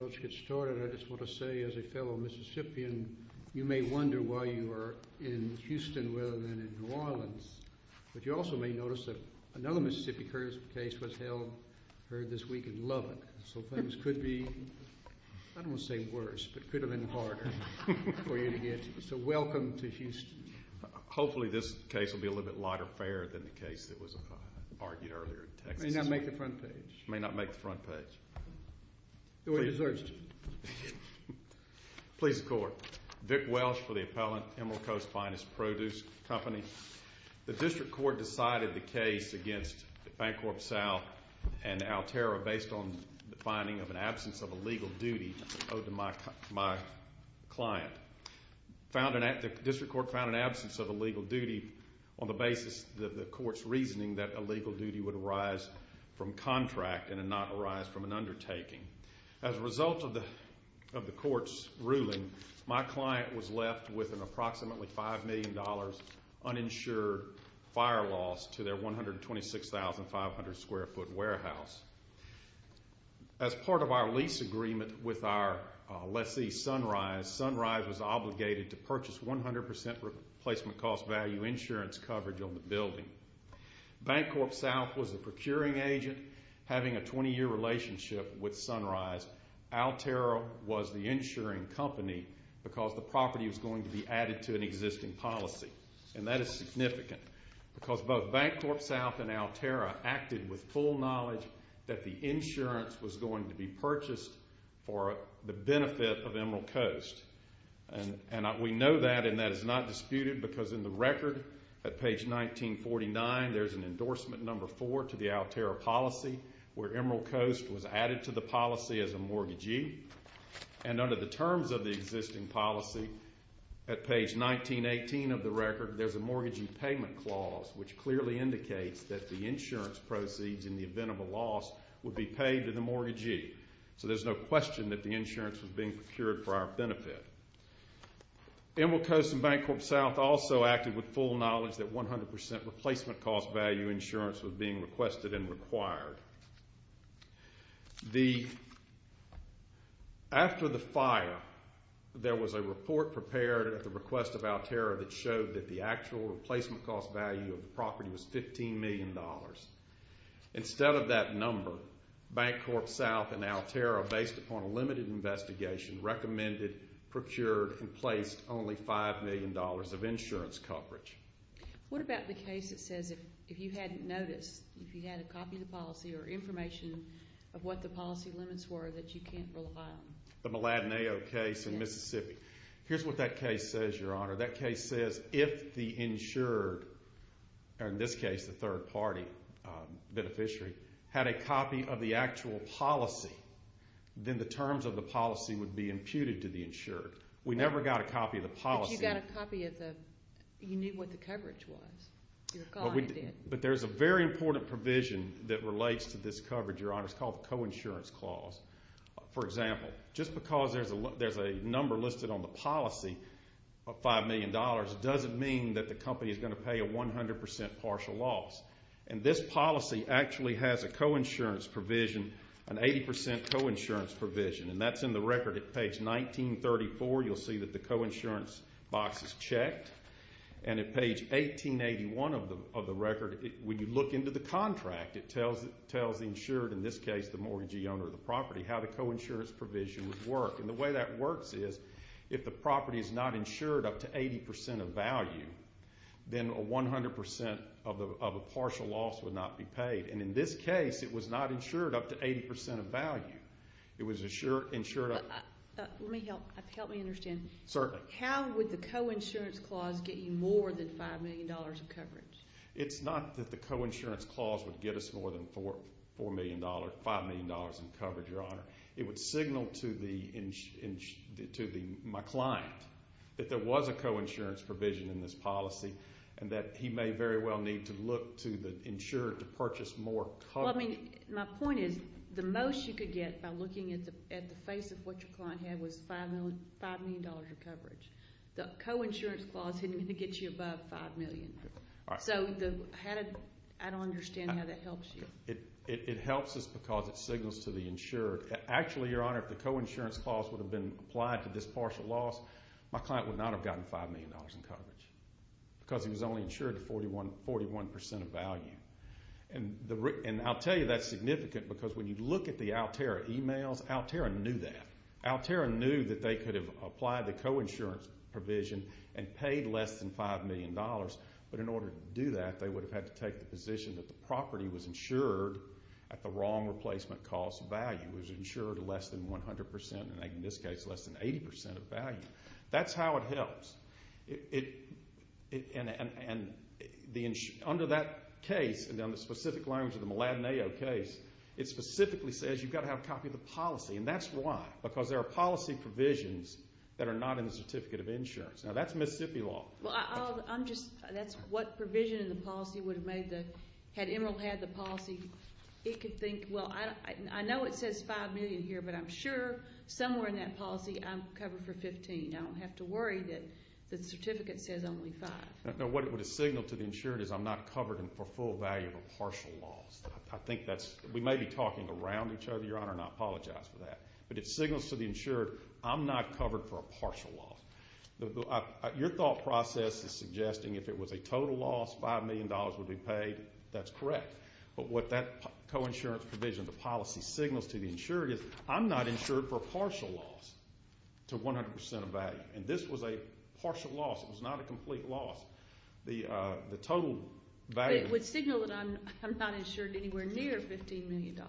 Let's get started. I just want to say, as a fellow Mississippian, you may wonder why you are in Houston rather than in New Orleans, but you also may notice that another Mississippi case was heard this week in Lubbock, so things could be, I don't want to say worse, but could have been harder for you to get. So welcome to Houston. Hopefully this case will be a little bit lighter fare than the case that was argued earlier in Texas. May not make the front page. May not make the front page. The way it deserves to be. Please, the Court. Vic Welsh for the appellant, Emerald Coast Finest Produce Company. The District Court decided the case against Bancorp South and Altera based on the finding of an absence of a legal duty owed to my client. The District Court found an absence of a legal duty on the basis of the Court's reasoning that a legal duty would arise from contract and not arise from an undertaking. As a result of the Court's ruling, my client was left with an approximately $5 million uninsured fire loss to their 126,500 square foot warehouse. As part of our lease agreement with our lessee, Sunrise, Sunrise was obligated to purchase 100% replacement cost value insurance coverage on the building. Bancorp South was a procuring agent having a 20-year relationship with Sunrise. Altera was the insuring company because the property was going to be added to an existing policy. And that is significant because both Bancorp South and Altera acted with full knowledge that the insurance was going to be purchased for the benefit of Emerald Coast. And we know that and that is not disputed because in the record, at page 1949, there's an endorsement number four to the Altera policy where Emerald Coast was added to the policy as a mortgagee. And under the terms of the existing policy, at page 1918 of the record, there's a mortgagee payment clause which clearly indicates that the insurance proceeds in the event of a loss would be paid to the mortgagee. So there's no question that the insurance was being procured for our benefit. Emerald Coast and Bancorp South also acted with full knowledge that 100% replacement cost value insurance was being requested and required. After the fire, there was a report prepared at the request of Altera that showed that the actual replacement cost value of the property was $15 million. Instead of that number, Bancorp South and Altera, based upon a limited investigation, recommended, procured, and placed only $5 million of insurance coverage. What about the case that says if you hadn't noticed, if you had a copy of the policy or information of what the policy limits were that you can't rely on? The Maladenao case in Mississippi. Yes. Here's what that case says, Your Honor. That case says if the insured, or in this case the third-party beneficiary, had a copy of the actual policy, then the terms of the policy would be imputed to the insured. We never got a copy of the policy. But you got a copy of the – you knew what the coverage was. But there's a very important provision that relates to this coverage, Your Honor. It's called the coinsurance clause. For example, just because there's a number listed on the policy of $5 million doesn't mean that the company is going to pay a 100% partial loss. And this policy actually has a coinsurance provision, an 80% coinsurance provision. And that's in the record at page 1934. You'll see that the coinsurance box is checked. And at page 1881 of the record, when you look into the contract, it tells the insured, in this case the mortgagee owner of the property, how the coinsurance provision would work. And the way that works is if the property is not insured up to 80% of value, then 100% of a partial loss would not be paid. And in this case, it was not insured up to 80% of value. It was insured up to – Let me help. Help me understand. Certainly. How would the coinsurance clause get you more than $5 million of coverage? It's not that the coinsurance clause would get us more than $4 million, $5 million in coverage, Your Honor. It would signal to my client that there was a coinsurance provision in this policy and that he may very well need to look to the insured to purchase more coverage. Well, I mean, my point is the most you could get by looking at the face of what your client had was $5 million of coverage. The coinsurance clause didn't get you above $5 million. So how did – I don't understand how that helps you. It helps us because it signals to the insured. Actually, Your Honor, if the coinsurance clause would have been applied to this partial loss, my client would not have gotten $5 million in coverage. Because he was only insured to 41% of value. And I'll tell you that's significant because when you look at the Altera emails, Altera knew that. Altera knew that they could have applied the coinsurance provision and paid less than $5 million. But in order to do that, they would have had to take the position that the property was insured at the wrong replacement cost value, was insured less than 100%, and in this case less than 80% of value. That's how it helps. And under that case, and on the specific loans of the Mladenayo case, it specifically says you've got to have a copy of the policy. And that's why, because there are policy provisions that are not in the Certificate of Insurance. Now, that's Mississippi law. Well, I'm just – that's what provision in the policy would have made the – had Emeril had the policy, it could think, well, I know it says $5 million here, but I'm sure somewhere in that policy I'm covered for $15. I don't have to worry that the certificate says only $5. No, what it would have signaled to the insured is I'm not covered for full value of a partial loss. I think that's – we may be talking around each other, Your Honor, and I apologize for that. But it signals to the insured, I'm not covered for a partial loss. Your thought process is suggesting if it was a total loss, $5 million would be paid. That's correct. But what that coinsurance provision, the policy signals to the insured is I'm not insured for partial loss to 100% of value. And this was a partial loss. It was not a complete loss. The total value. But it would signal that I'm not insured anywhere near $15 million.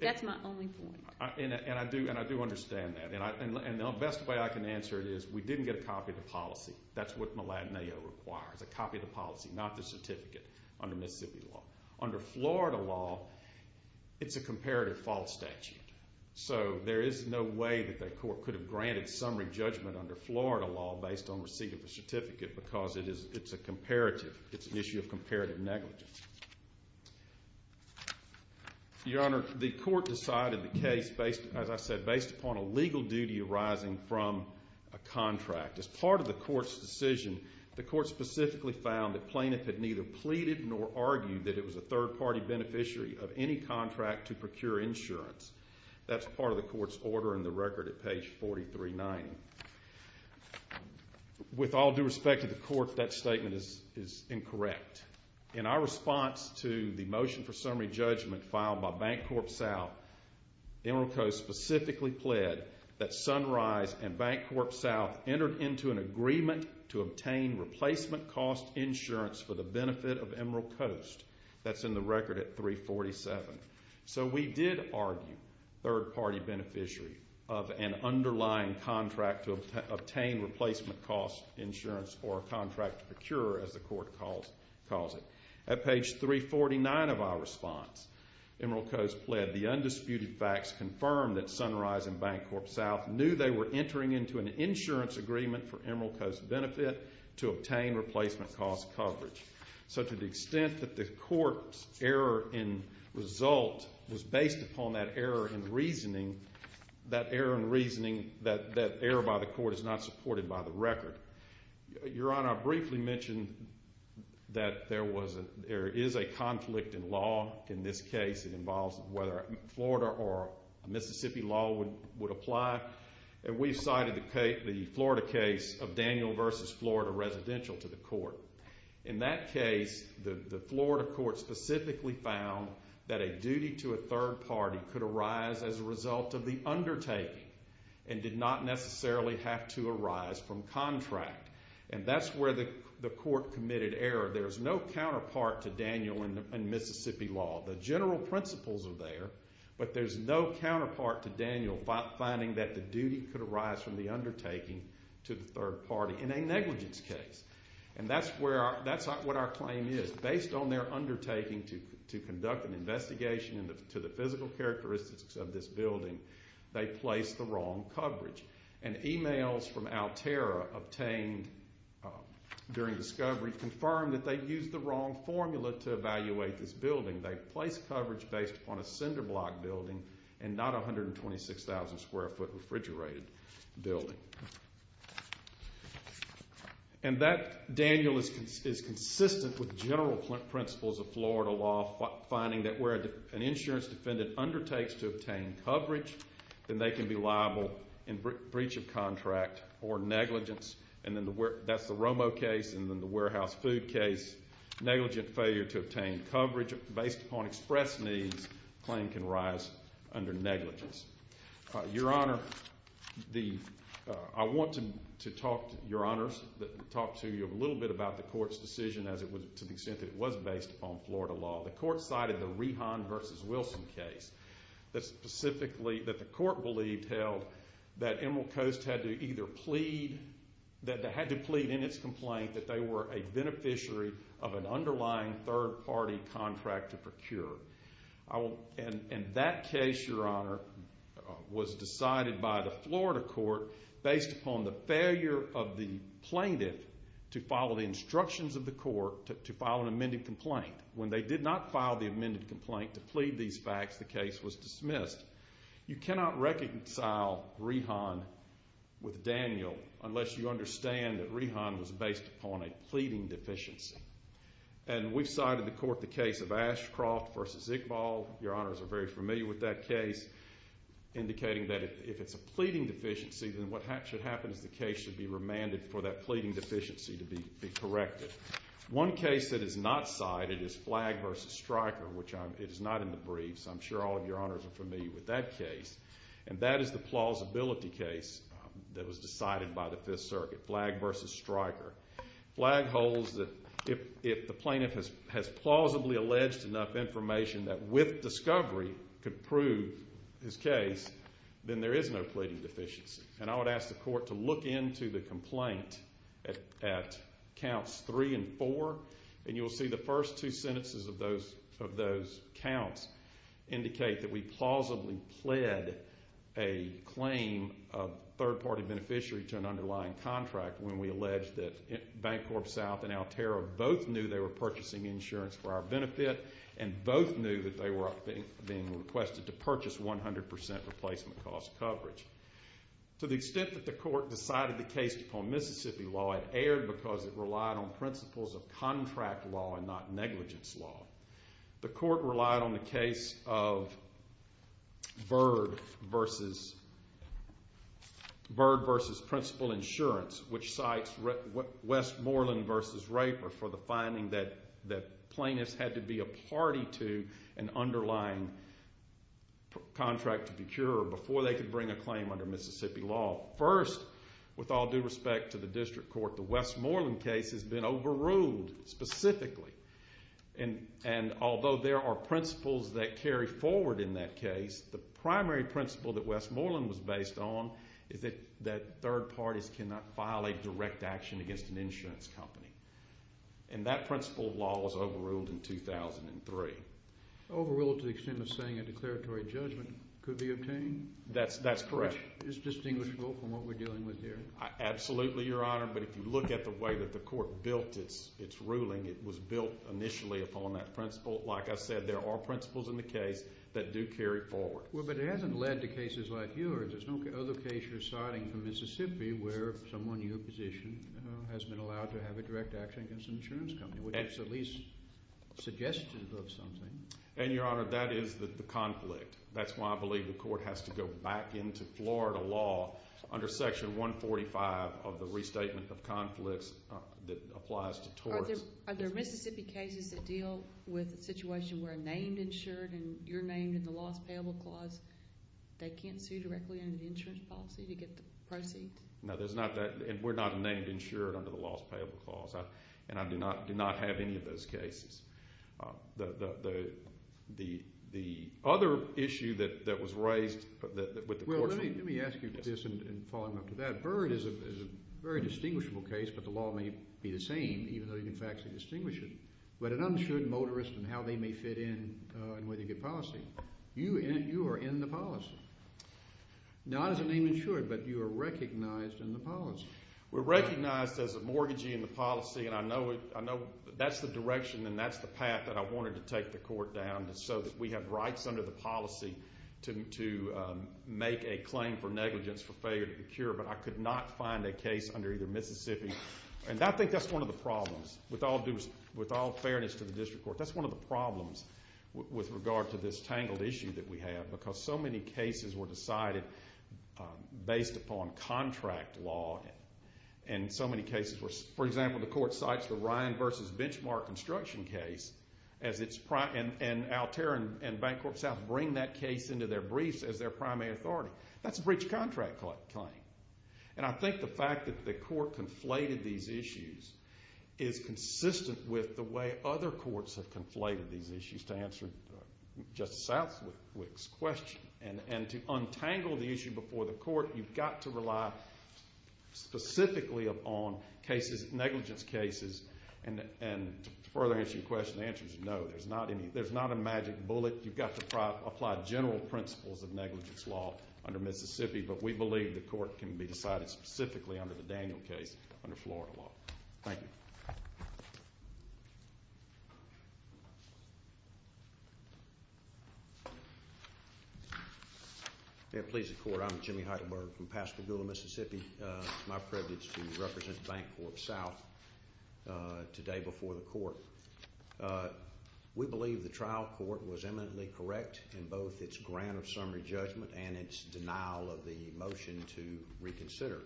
That's my only point. And I do understand that. And the best way I can answer it is we didn't get a copy of the policy. That's what Maladenao requires, a copy of the policy, not the certificate under Mississippi law. Under Florida law, it's a comparative false statute. So there is no way that the court could have granted summary judgment under Florida law based on receiving the certificate because it's a comparative – it's an issue of comparative negligence. Your Honor, the court decided the case, as I said, based upon a legal duty arising from a contract. As part of the court's decision, the court specifically found that plaintiff had neither pleaded nor argued that it was a third-party beneficiary of any contract to procure insurance. That's part of the court's order in the record at page 4390. With all due respect to the court, that statement is incorrect. In our response to the motion for summary judgment filed by Bank Corp South, Emerald Coast specifically pled that Sunrise and Bank Corp South entered into an agreement to obtain replacement cost insurance for the benefit of Emerald Coast. That's in the record at 347. So we did argue third-party beneficiary of an underlying contract to obtain replacement cost insurance or a contract to procure, as the court calls it. At page 349 of our response, Emerald Coast pled the undisputed facts confirmed that Sunrise and Bank Corp South knew they were entering into an insurance agreement for Emerald Coast benefit to obtain replacement cost coverage. So to the extent that the court's error in result was based upon that error in reasoning, that error in reasoning, that error by the court is not supported by the record. Your Honor, I briefly mentioned that there is a conflict in law in this case. It involves whether Florida or Mississippi law would apply. And we've cited the Florida case of Daniel v. Florida Residential to the court. In that case, the Florida court specifically found that a duty to a third party could arise as a result of the undertaking and did not necessarily have to arise from contract. And that's where the court committed error. There's no counterpart to Daniel in Mississippi law. The general principles are there, but there's no counterpart to Daniel finding that the duty could arise from the undertaking to the third party in a negligence case. And that's what our claim is. Based on their undertaking to conduct an investigation into the physical characteristics of this building, they placed the wrong coverage. And emails from Altera obtained during discovery confirmed that they used the wrong formula to evaluate this building. They placed coverage based upon a cinder block building and not a 126,000 square foot refrigerated building. And that Daniel is consistent with general principles of Florida law finding that where an insurance defendant undertakes to obtain coverage, then they can be liable in breach of contract or negligence. And that's the Romo case and then the Warehouse Food case. Negligent failure to obtain coverage based upon express needs claim can rise under negligence. Your Honor, I want to talk to you a little bit about the court's decision to the extent that it was based upon Florida law. The court cited the Rehan v. Wilson case that the court believed held that Emerald Coast had to plead in its complaint that they were a beneficiary of an underlying third party contract to procure. And that case, Your Honor, was decided by the Florida court based upon the failure of the plaintiff to follow the instructions of the court to file an amended complaint. When they did not file the amended complaint to plead these facts, the case was dismissed. You cannot reconcile Rehan with Daniel unless you understand that Rehan was based upon a pleading deficiency. And we've cited to court the case of Ashcroft v. Iqbal. Your Honors are very familiar with that case, indicating that if it's a pleading deficiency, then what should happen is the case should be remanded for that pleading deficiency to be corrected. One case that is not cited is Flagg v. Stryker, which is not in the briefs. I'm sure all of Your Honors are familiar with that case. And that is the plausibility case that was decided by the Fifth Circuit, Flagg v. Stryker. Flagg holds that if the plaintiff has plausibly alleged enough information that with discovery could prove his case, then there is no pleading deficiency. And I would ask the court to look into the complaint at counts three and four, and you'll see the first two sentences of those counts indicate that we plausibly pled a claim of third-party beneficiary to an underlying contract when we alleged that Bancorp South and Alterra both knew they were purchasing insurance for our benefit and both knew that they were being requested to purchase 100% replacement cost coverage. To the extent that the court decided the case upon Mississippi law, it erred because it relied on principles of contract law and not negligence law. The court relied on the case of Bird v. Principal Insurance, which cites Westmoreland v. Raper for the finding that plaintiffs had to be a party to an underlying contract to procure before they could bring a claim under Mississippi law. First, with all due respect to the district court, the Westmoreland case has been overruled specifically and although there are principles that carry forward in that case, the primary principle that Westmoreland was based on is that third parties cannot violate direct action against an insurance company. And that principle of law was overruled in 2003. Overruled to the extent of saying a declaratory judgment could be obtained? That's correct. Which is distinguishable from what we're dealing with here. Absolutely, Your Honor, but if you look at the way that the court built its ruling, it was built initially upon that principle. Like I said, there are principles in the case that do carry forward. Well, but it hasn't led to cases like yours. There's no other case you're citing from Mississippi where someone in your position has been allowed to have a direct action against an insurance company, which is at least suggestive of something. And, Your Honor, that is the conflict. That's why I believe the court has to go back into Florida law under Section 145 of the Restatement of Conflicts that applies to torts. Are there Mississippi cases that deal with a situation where a named insured and you're named in the Lost Payable Clause, they can't sue directly under the insurance policy to get the proceeds? No, there's not that. And we're not a named insured under the Lost Payable Clause. And I do not have any of those cases. The other issue that was raised with the courts. Well, let me ask you this in following up to that. Byrd is a very distinguishable case, but the law may be the same, even though you can factually distinguish it. But an uninsured motorist and how they may fit in and whether you get policy. You are in the policy. Not as a named insured, but you are recognized in the policy. We're recognized as a mortgagee in the policy, and I know that's the direction and that's the path that I wanted to take the court down so that we have rights under the policy to make a claim for negligence for failure to procure, but I could not find a case under either Mississippi. And I think that's one of the problems. With all fairness to the district court, that's one of the problems with regard to this tangled issue that we have because so many cases were decided based upon contract law. And so many cases were, for example, the court cites the Ryan v. Benchmark construction case and Altair and Bank Corp South bring that case into their briefs as their primary authority. That's a breached contract claim. And I think the fact that the court conflated these issues is consistent with the way other courts have conflated these issues to answer Justice Southwick's question. And to untangle the issue before the court, you've got to rely specifically upon cases, negligence cases, and to further answer your question, the answer is no. There's not a magic bullet. You've got to apply general principles of negligence law under Mississippi, but we believe the court can be decided specifically under the Daniel case under Florida law. Thank you. May it please the Court, I'm Jimmy Heidelberg from Pascagoula, Mississippi. It's my privilege to represent Bank Corp South today before the court. We believe the trial court was eminently correct in both its grant of summary judgment and its denial of the motion to reconsider.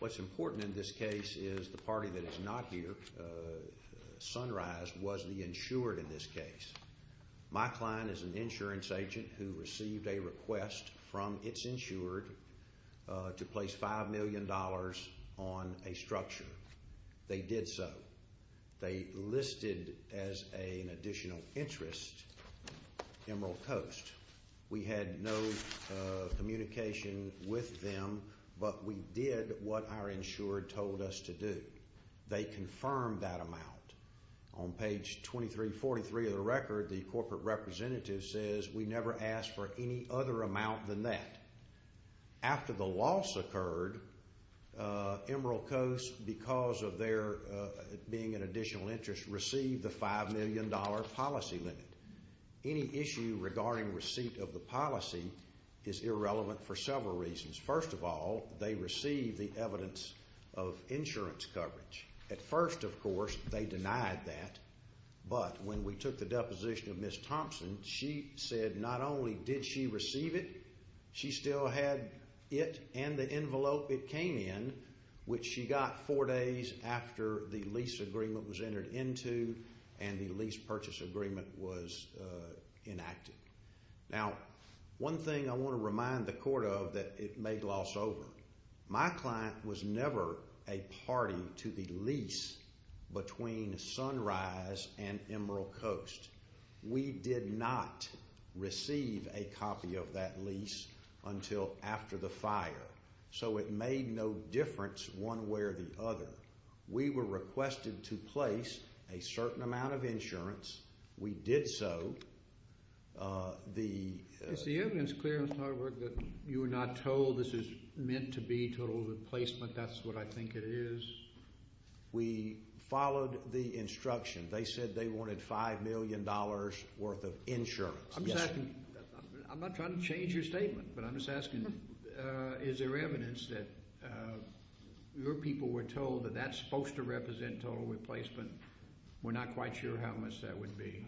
What's important in this case is the party that is not here, Sunrise, was the insured in this case. My client is an insurance agent who received a request from its insured to place $5 million on a structure. They did so. They listed as an additional interest Emerald Coast. We had no communication with them, but we did what our insured told us to do. They confirmed that amount. On page 2343 of the record, the corporate representative says, we never asked for any other amount than that. After the loss occurred, Emerald Coast, because of their being an additional interest, received the $5 million policy limit. Any issue regarding receipt of the policy is irrelevant for several reasons. First of all, they received the evidence of insurance coverage. At first, of course, they denied that. But when we took the deposition of Ms. Thompson, she said not only did she receive it, she still had it and the envelope it came in, which she got four days after the lease agreement was entered into and the lease purchase agreement was enacted. Now, one thing I want to remind the court of that it made loss over. My client was never a party to the lease between Sunrise and Emerald Coast. We did not receive a copy of that lease until after the fire, so it made no difference one way or the other. We were requested to place a certain amount of insurance. We did so. Is the evidence clear, Mr. Hardwick, that you were not told this is meant to be total replacement? That's what I think it is. We followed the instruction. They said they wanted $5 million worth of insurance. I'm not trying to change your statement, but I'm just asking, is there evidence that your people were told that that's supposed to represent total replacement? We're not quite sure how much that would be.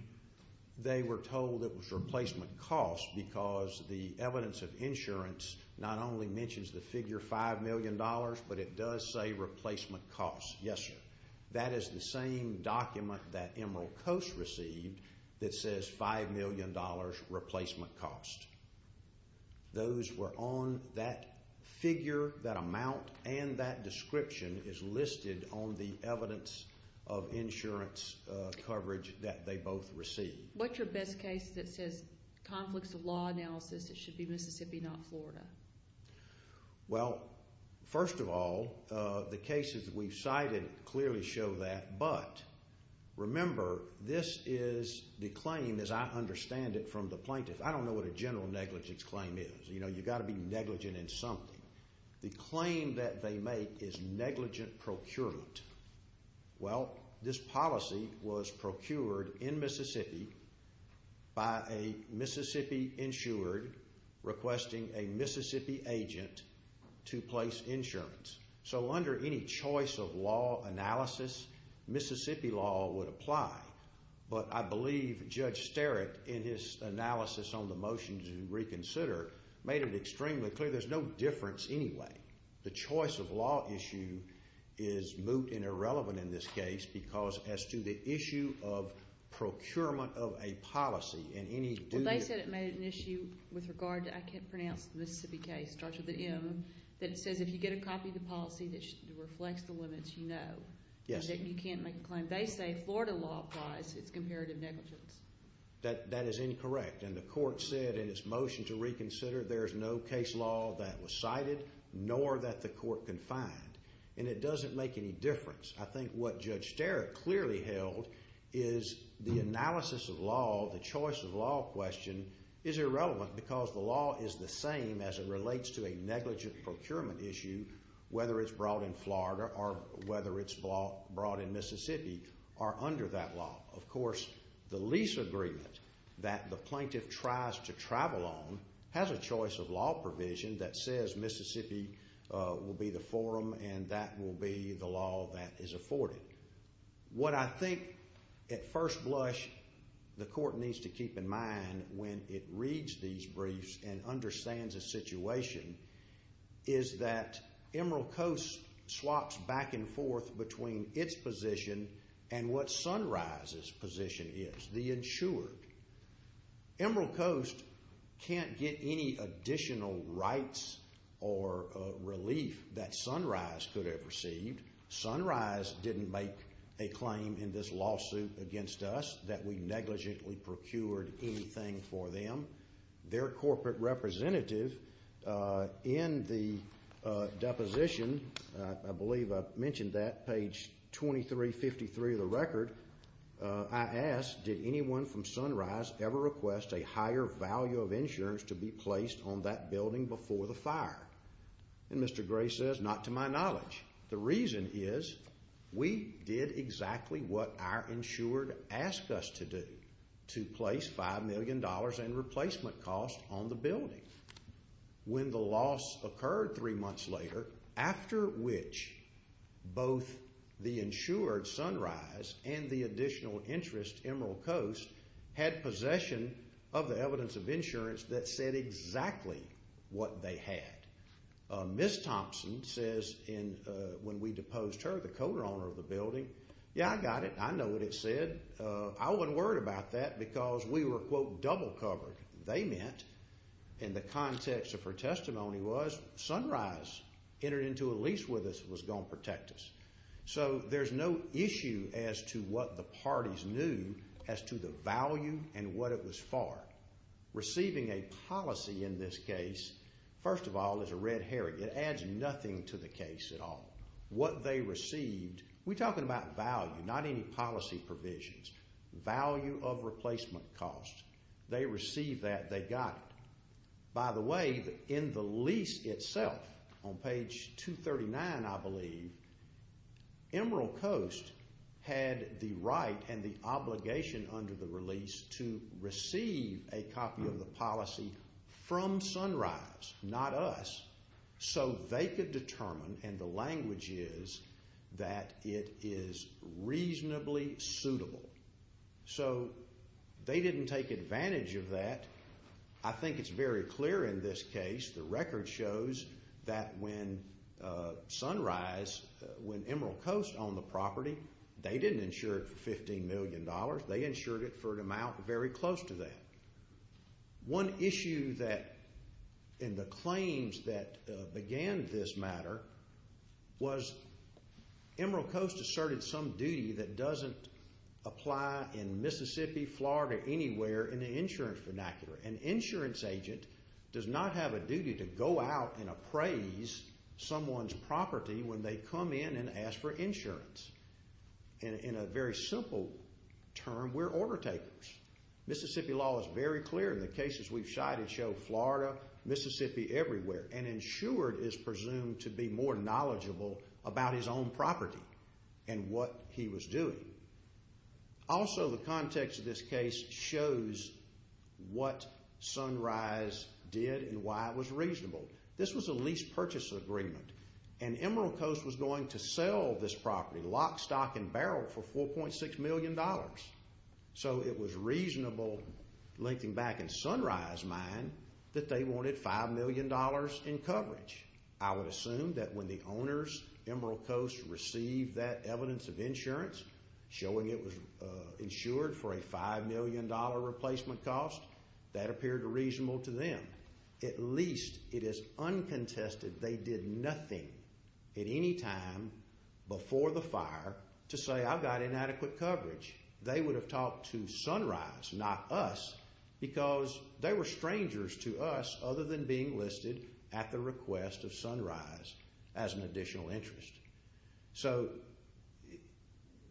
They were told it was replacement cost because the evidence of insurance not only mentions the figure $5 million, but it does say replacement cost. Yes, sir. That is the same document that Emerald Coast received that says $5 million replacement cost. Those were on that figure. That amount and that description is listed on the evidence of insurance coverage that they both received. What's your best case that says conflicts of law analysis? It should be Mississippi, not Florida. Well, first of all, the cases we've cited clearly show that. But remember, this is the claim, as I understand it, from the plaintiff. I don't know what a general negligence claim is. You've got to be negligent in something. The claim that they make is negligent procurement. Well, this policy was procured in Mississippi by a Mississippi insured requesting a Mississippi agent to place insurance. So under any choice of law analysis, Mississippi law would apply. But I believe Judge Sterik, in his analysis on the motion to reconsider, made it extremely clear there's no difference anyway. The choice of law issue is moot and irrelevant in this case because as to the issue of procurement of a policy and any duty. Well, they said it made an issue with regard to, I can't pronounce the Mississippi case, it starts with an M, that says if you get a copy of the policy that reflects the limits, you know. Yes, sir. You can't make a claim. They say Florida law applies. It's comparative negligence. That is incorrect. And the court said in its motion to reconsider there's no case law that was cited nor that the court confined. And it doesn't make any difference. I think what Judge Sterik clearly held is the analysis of law, the choice of law question, is irrelevant because the law is the same as it relates to a negligent procurement issue, whether it's brought in Florida or whether it's brought in Mississippi, are under that law. Of course, the lease agreement that the plaintiff tries to travel on has a choice of law provision that says Mississippi will be the forum and that will be the law that is afforded. What I think at first blush the court needs to keep in mind when it reads these briefs and understands the situation is that Emerald Coast swaps back and forth between its position and what Sunrise's position is, the insured. Emerald Coast can't get any additional rights or relief that Sunrise could have received. Sunrise didn't make a claim in this lawsuit against us that we negligently procured anything for them. Their corporate representative in the deposition, I believe I mentioned that, page 2353 of the record, I asked, did anyone from Sunrise ever request a higher value of insurance to be placed on that building before the fire? And Mr. Gray says, not to my knowledge. The reason is we did exactly what our insured asked us to do, to place $5 million in replacement costs on the building. When the loss occurred three months later, after which both the insured, Sunrise, and the additional interest, Emerald Coast, had possession of the evidence of insurance that said exactly what they had. Ms. Thompson says when we deposed her, the co-owner of the building, yeah, I got it. I know what it said. I wasn't worried about that because we were, quote, double covered. They meant, in the context of her testimony, was Sunrise entered into a lease with us and was going to protect us. So there's no issue as to what the parties knew as to the value and what it was for. Receiving a policy in this case, first of all, is a red herring. It adds nothing to the case at all. What they received, we're talking about value, not any policy provisions. Value of replacement costs. They received that. They got it. By the way, in the lease itself, on page 239, I believe, Emerald Coast had the right and the obligation under the release to receive a copy of the policy from Sunrise, not us, so they could determine, and the language is, that it is reasonably suitable. So they didn't take advantage of that. I think it's very clear in this case. The record shows that when Sunrise, when Emerald Coast owned the property, they didn't insure it for $15 million. They insured it for an amount very close to that. One issue that, in the claims that began this matter, was Emerald Coast asserted some duty that doesn't apply in Mississippi, Florida, anywhere in the insurance vernacular. An insurance agent does not have a duty to go out and appraise someone's property when they come in and ask for insurance. In a very simple term, we're order takers. Mississippi law is very clear. The cases we've cited show Florida, Mississippi, everywhere, and insured is presumed to be more knowledgeable about his own property and what he was doing. Also, the context of this case shows what Sunrise did and why it was reasonable. This was a lease purchase agreement, and Emerald Coast was going to sell this property, lock, stock, and barrel, for $4.6 million. So it was reasonable, linking back in Sunrise's mind, that they wanted $5 million in coverage. I would assume that when the owners, Emerald Coast, received that evidence of insurance, showing it was insured for a $5 million replacement cost, that appeared reasonable to them. At least it is uncontested they did nothing at any time before the fire to say, I've got inadequate coverage. They would have talked to Sunrise, not us, because they were strangers to us, other than being listed at the request of Sunrise as an additional interest. So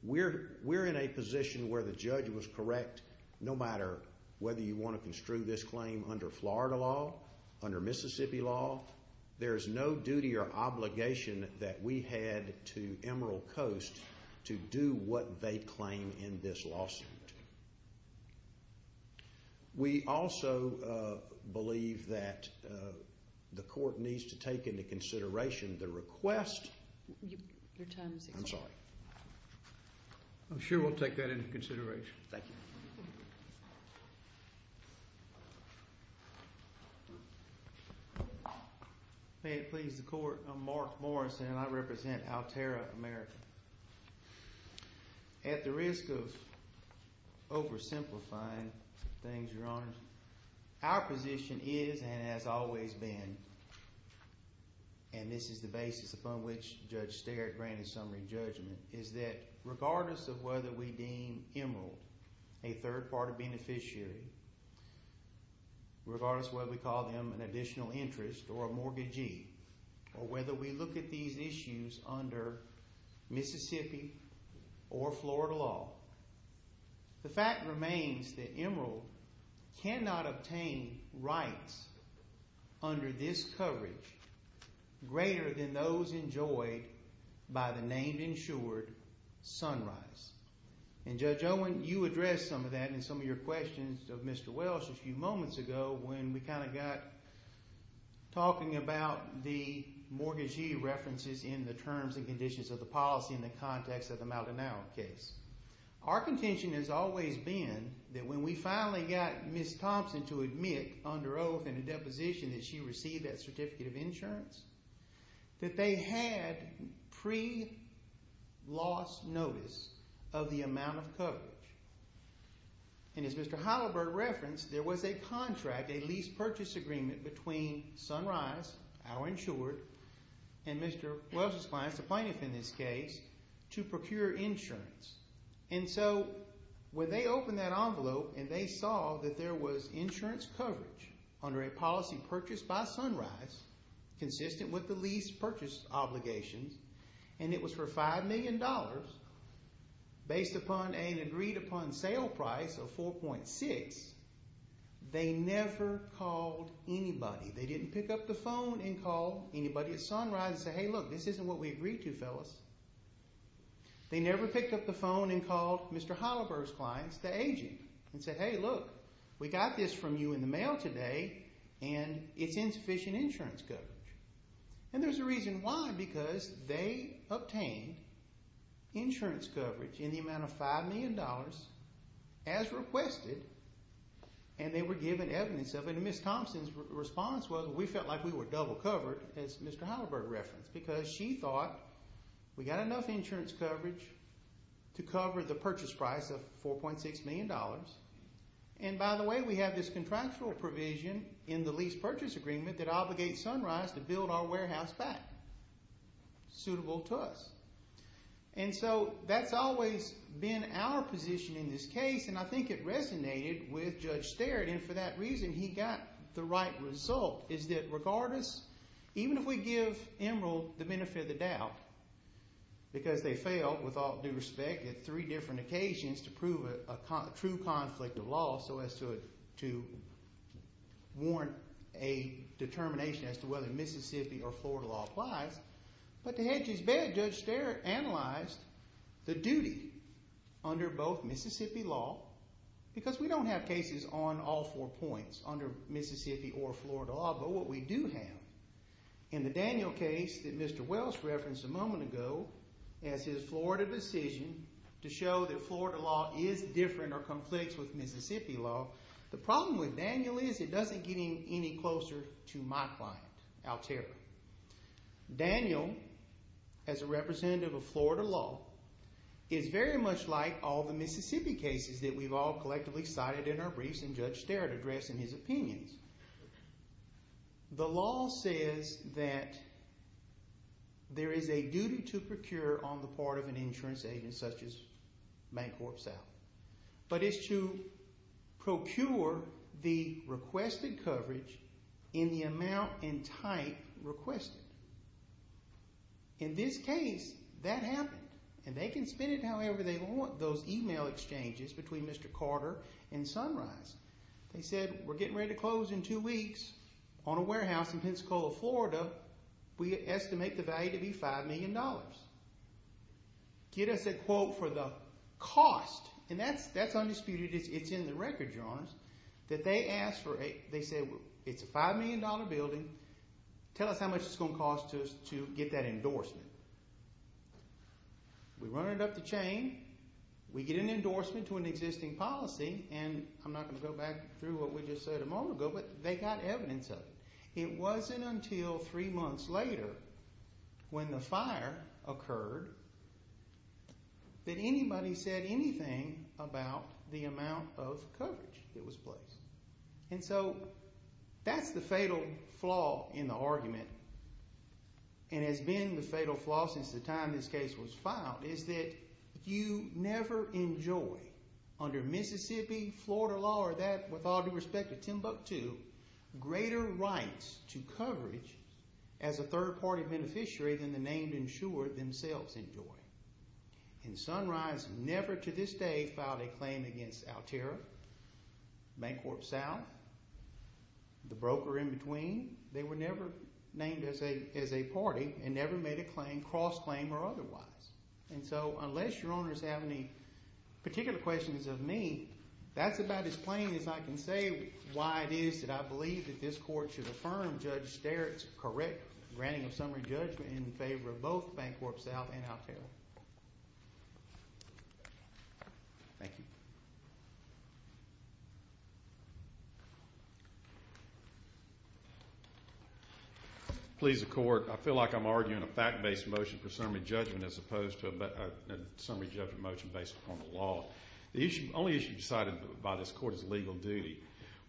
we're in a position where the judge was correct. No matter whether you want to construe this claim under Florida law, under Mississippi law, there is no duty or obligation that we had to Emerald Coast to do what they claim in this lawsuit. We also believe that the court needs to take into consideration the request Your time is up. I'm sorry. I'm sure we'll take that into consideration. Thank you. May it please the Court, I'm Mark Morrison and I represent Altera America. At the risk of oversimplifying things, Your Honor, our position is and has always been, and this is the basis upon which Judge Sterik granted summary judgment, is that regardless of whether we deem Emerald a third-party beneficiary, regardless of whether we call them an additional interest or a mortgagee, or whether we look at these issues under Mississippi or Florida law, the fact remains that Emerald cannot obtain rights under this coverage greater than those enjoyed by the name-insured Sunrise. And Judge Owen, you addressed some of that in some of your questions of Mr. Welsh a few moments ago when we kind of got talking about the mortgagee references in the terms and conditions of the policy in the context of the Maldonado case. Our contention has always been that when we finally got Ms. Thompson to admit under oath in a deposition that she received that certificate of insurance, that they had pre-loss notice of the amount of coverage. And as Mr. Halliburton referenced, there was a contract, a lease purchase agreement, between Sunrise, our insured, and Mr. Welsh's clients, the plaintiff in this case, to procure insurance. And so when they opened that envelope and they saw that there was insurance coverage under a policy purchased by Sunrise consistent with the lease purchase obligations, and it was for $5 million based upon an agreed-upon sale price of 4.6, they never called anybody. They didn't pick up the phone and call anybody at Sunrise and say, hey, look, this isn't what we agreed to, fellas. They never picked up the phone and called Mr. Halliburton's clients, the agent, and said, hey, look, we got this from you in the mail today, and it's insufficient insurance coverage. And there's a reason why, because they obtained insurance coverage in the amount of $5 million as requested, and they were given evidence of it. And Ms. Thompson's response was, we felt like we were double-covered, as Mr. Halliburton referenced, because she thought we got enough insurance coverage to cover the purchase price of $4.6 million. And by the way, we have this contractual provision in the lease purchase agreement that obligates Sunrise to build our warehouse back, suitable to us. And so that's always been our position in this case, and I think it resonated with Judge Sterrett. And for that reason, he got the right result, is that regardless, even if we give Emerald the benefit of the doubt, because they failed, with all due respect, at three different occasions to prove a true conflict of law so as to warrant a determination as to whether Mississippi or Florida law applies, but to hedge his bet, Judge Sterrett analyzed the duty under both Mississippi law, because we don't have cases on all four points, under Mississippi or Florida law, but what we do have, in the Daniel case that Mr. Wells referenced a moment ago, as his Florida decision to show that Florida law is different or conflicts with Mississippi law, the problem with Daniel is it doesn't get any closer to my client, Altera. Daniel, as a representative of Florida law, is very much like all the Mississippi cases that we've all collectively cited in our briefs and Judge Sterrett addressed in his opinions. The law says that there is a duty to procure on the part of an insurance agent such as Bank Corp. South, but it's to procure the requested coverage in the amount and type requested. In this case, that happened, and they can spend it however they want. Those email exchanges between Mr. Carter and Sunrise, they said, we're getting ready to close in two weeks on a warehouse in Pensacola, Florida. We estimate the value to be $5 million. Get us a quote for the cost, and that's undisputed. It's in the record, Your Honor, that they asked for, they said, it's a $5 million building. Tell us how much it's going to cost us to get that endorsement. We run it up the chain. We get an endorsement to an existing policy, and I'm not going to go back through what we just said a moment ago, but they got evidence of it. It wasn't until three months later when the fire occurred that anybody said anything about the amount of coverage that was placed, and so that's the fatal flaw in the argument and has been the fatal flaw since the time this case was filed is that you never enjoy, under Mississippi, Florida law, or that, with all due respect, or Timbuktu, greater rights to coverage as a third-party beneficiary than the named insurer themselves enjoy. And Sunrise never, to this day, filed a claim against Altera, Bancorp South, the broker in between. They were never named as a party and never made a claim, cross-claim or otherwise. And so unless Your Honors have any particular questions of me, that's about as plain as I can say why it is that I believe that this Court should affirm Judge Sterik's correct granting of summary judgment in favor of both Bancorp South and Altera. Thank you. Please, the Court. I feel like I'm arguing a fact-based motion for summary judgment as opposed to a summary judgment motion based upon the law. The only issue decided by this Court is legal duty.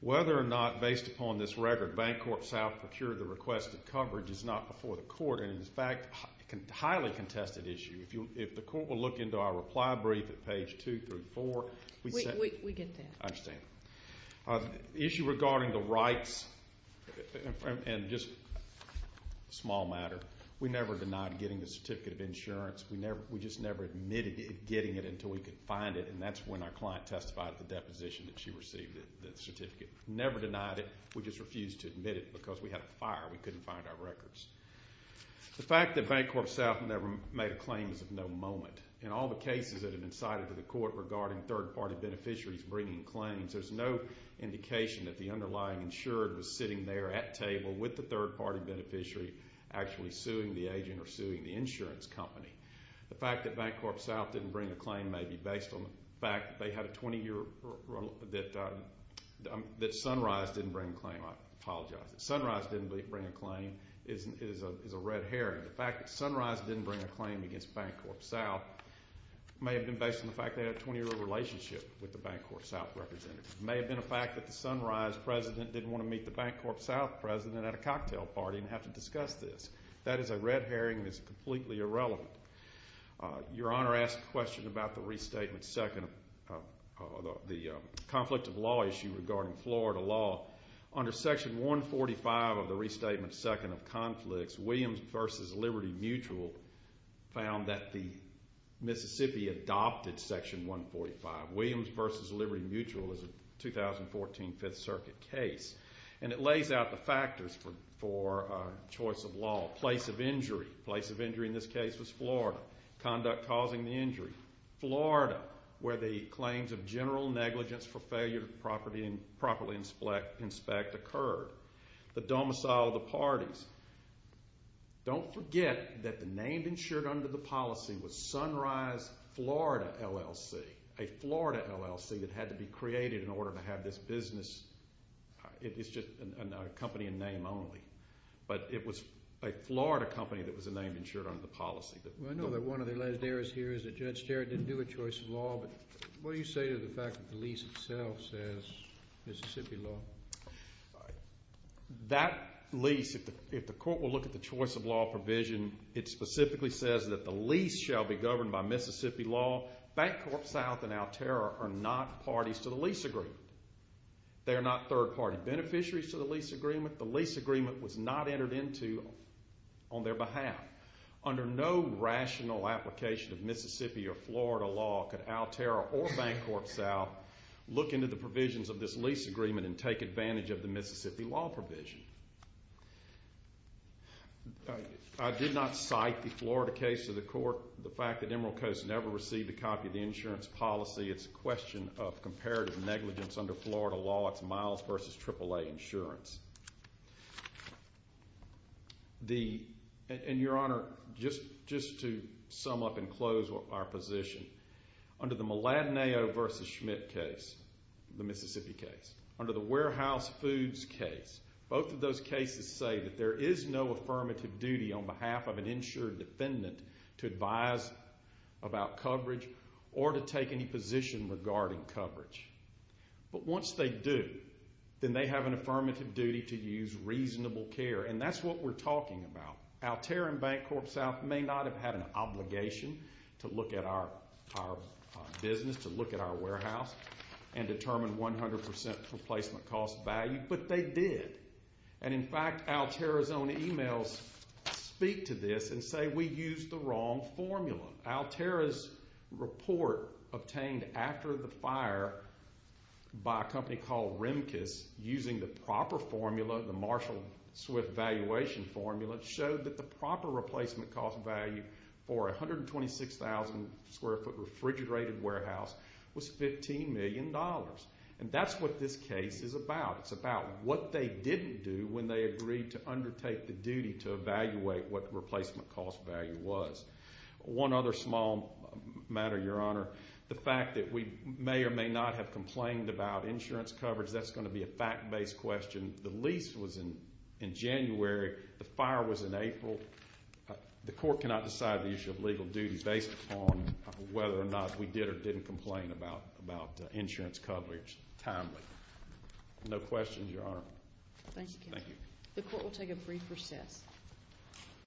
Whether or not, based upon this record, Bancorp South procured the requested coverage is not before the Court, and is, in fact, a highly contested issue. If the Court will look into our reply brief at page 2 through 4. We get that. I understand. The issue regarding the rights, and just a small matter, we never denied getting a certificate of insurance. We just never admitted getting it until we could find it, and that's when our client testified at the deposition that she received the certificate. Never denied it. We just refused to admit it because we had a fire. We couldn't find our records. The fact that Bancorp South never made a claim is of no moment. In all the cases that have been cited to the Court regarding third-party beneficiaries bringing claims, there's no indication that the underlying insured was sitting there at table with the third-party beneficiary actually suing the agent or suing the insurance company. The fact that Bancorp South didn't bring a claim may be based on the fact that they had a 20-year that Sunrise didn't bring a claim. I apologize. Sunrise didn't bring a claim is a red herring. The fact that Sunrise didn't bring a claim against Bancorp South may have been based on the fact they had a 20-year relationship with the Bancorp South representative. It may have been a fact that the Sunrise president didn't want to meet the Bancorp South president at a cocktail party and have to discuss this. That is a red herring and is completely irrelevant. Your Honor asked a question about the restatement second of the conflict of law issue regarding Florida law. Under Section 145 of the Restatement Second of Conflicts, Williams v. Liberty Mutual found that the Mississippi adopted Section 145. Williams v. Liberty Mutual is a 2014 Fifth Circuit case. And it lays out the factors for choice of law. Place of injury. Place of injury in this case was Florida. Conduct causing the injury. Florida, where the claims of general negligence for failure to properly inspect occurred. The domicile of the parties. Don't forget that the name insured under the policy was Sunrise Florida LLC, a Florida LLC that had to be created in order to have this business. It's just a company in name only. But it was a Florida company that was a name insured under the policy. I know that one of the last errors here is that Judge Sterritt didn't do a choice of law, but what do you say to the fact that the lease itself says Mississippi law? That lease, if the court will look at the choice of law provision, it specifically says that the lease shall be governed by Mississippi law. Bancorp South and Altera are not parties to the lease agreement. They are not third-party beneficiaries to the lease agreement. The lease agreement was not entered into on their behalf. Under no rational application of Mississippi or Florida law could Altera or Bancorp South look into the provisions of this lease agreement and take advantage of the Mississippi law provision. I did not cite the Florida case to the court. The fact that Emerald Coast never received a copy of the insurance policy, it's a question of comparative negligence under Florida law. It's Miles v. AAA Insurance. And, Your Honor, just to sum up and close our position, under the Mladenayo v. Schmidt case, the Mississippi case, under the Warehouse Foods case, both of those cases say that there is no affirmative duty on behalf of an insured defendant to advise about coverage or to take any position regarding coverage. But once they do, then they have an affirmative duty to use reasonable care, and that's what we're talking about. Altera and Bancorp South may not have had an obligation to look at our business, to look at our warehouse, and determine 100% replacement cost value, but they did. And, in fact, Altera's own emails speak to this and say we used the wrong formula. Altera's report obtained after the fire by a company called Remkes, using the proper formula, the Marshall-Swift valuation formula, showed that the proper replacement cost value for a 126,000-square-foot refrigerated warehouse was $15 million. And that's what this case is about. It's about what they didn't do when they agreed to undertake the duty to evaluate what replacement cost value was. One other small matter, Your Honor. The fact that we may or may not have complained about insurance coverage, that's going to be a fact-based question. The lease was in January. The fire was in April. The court cannot decide the issue of legal duty based upon whether or not we did or didn't complain about insurance coverage timely. No questions, Your Honor. Thank you. The court will take a brief recess.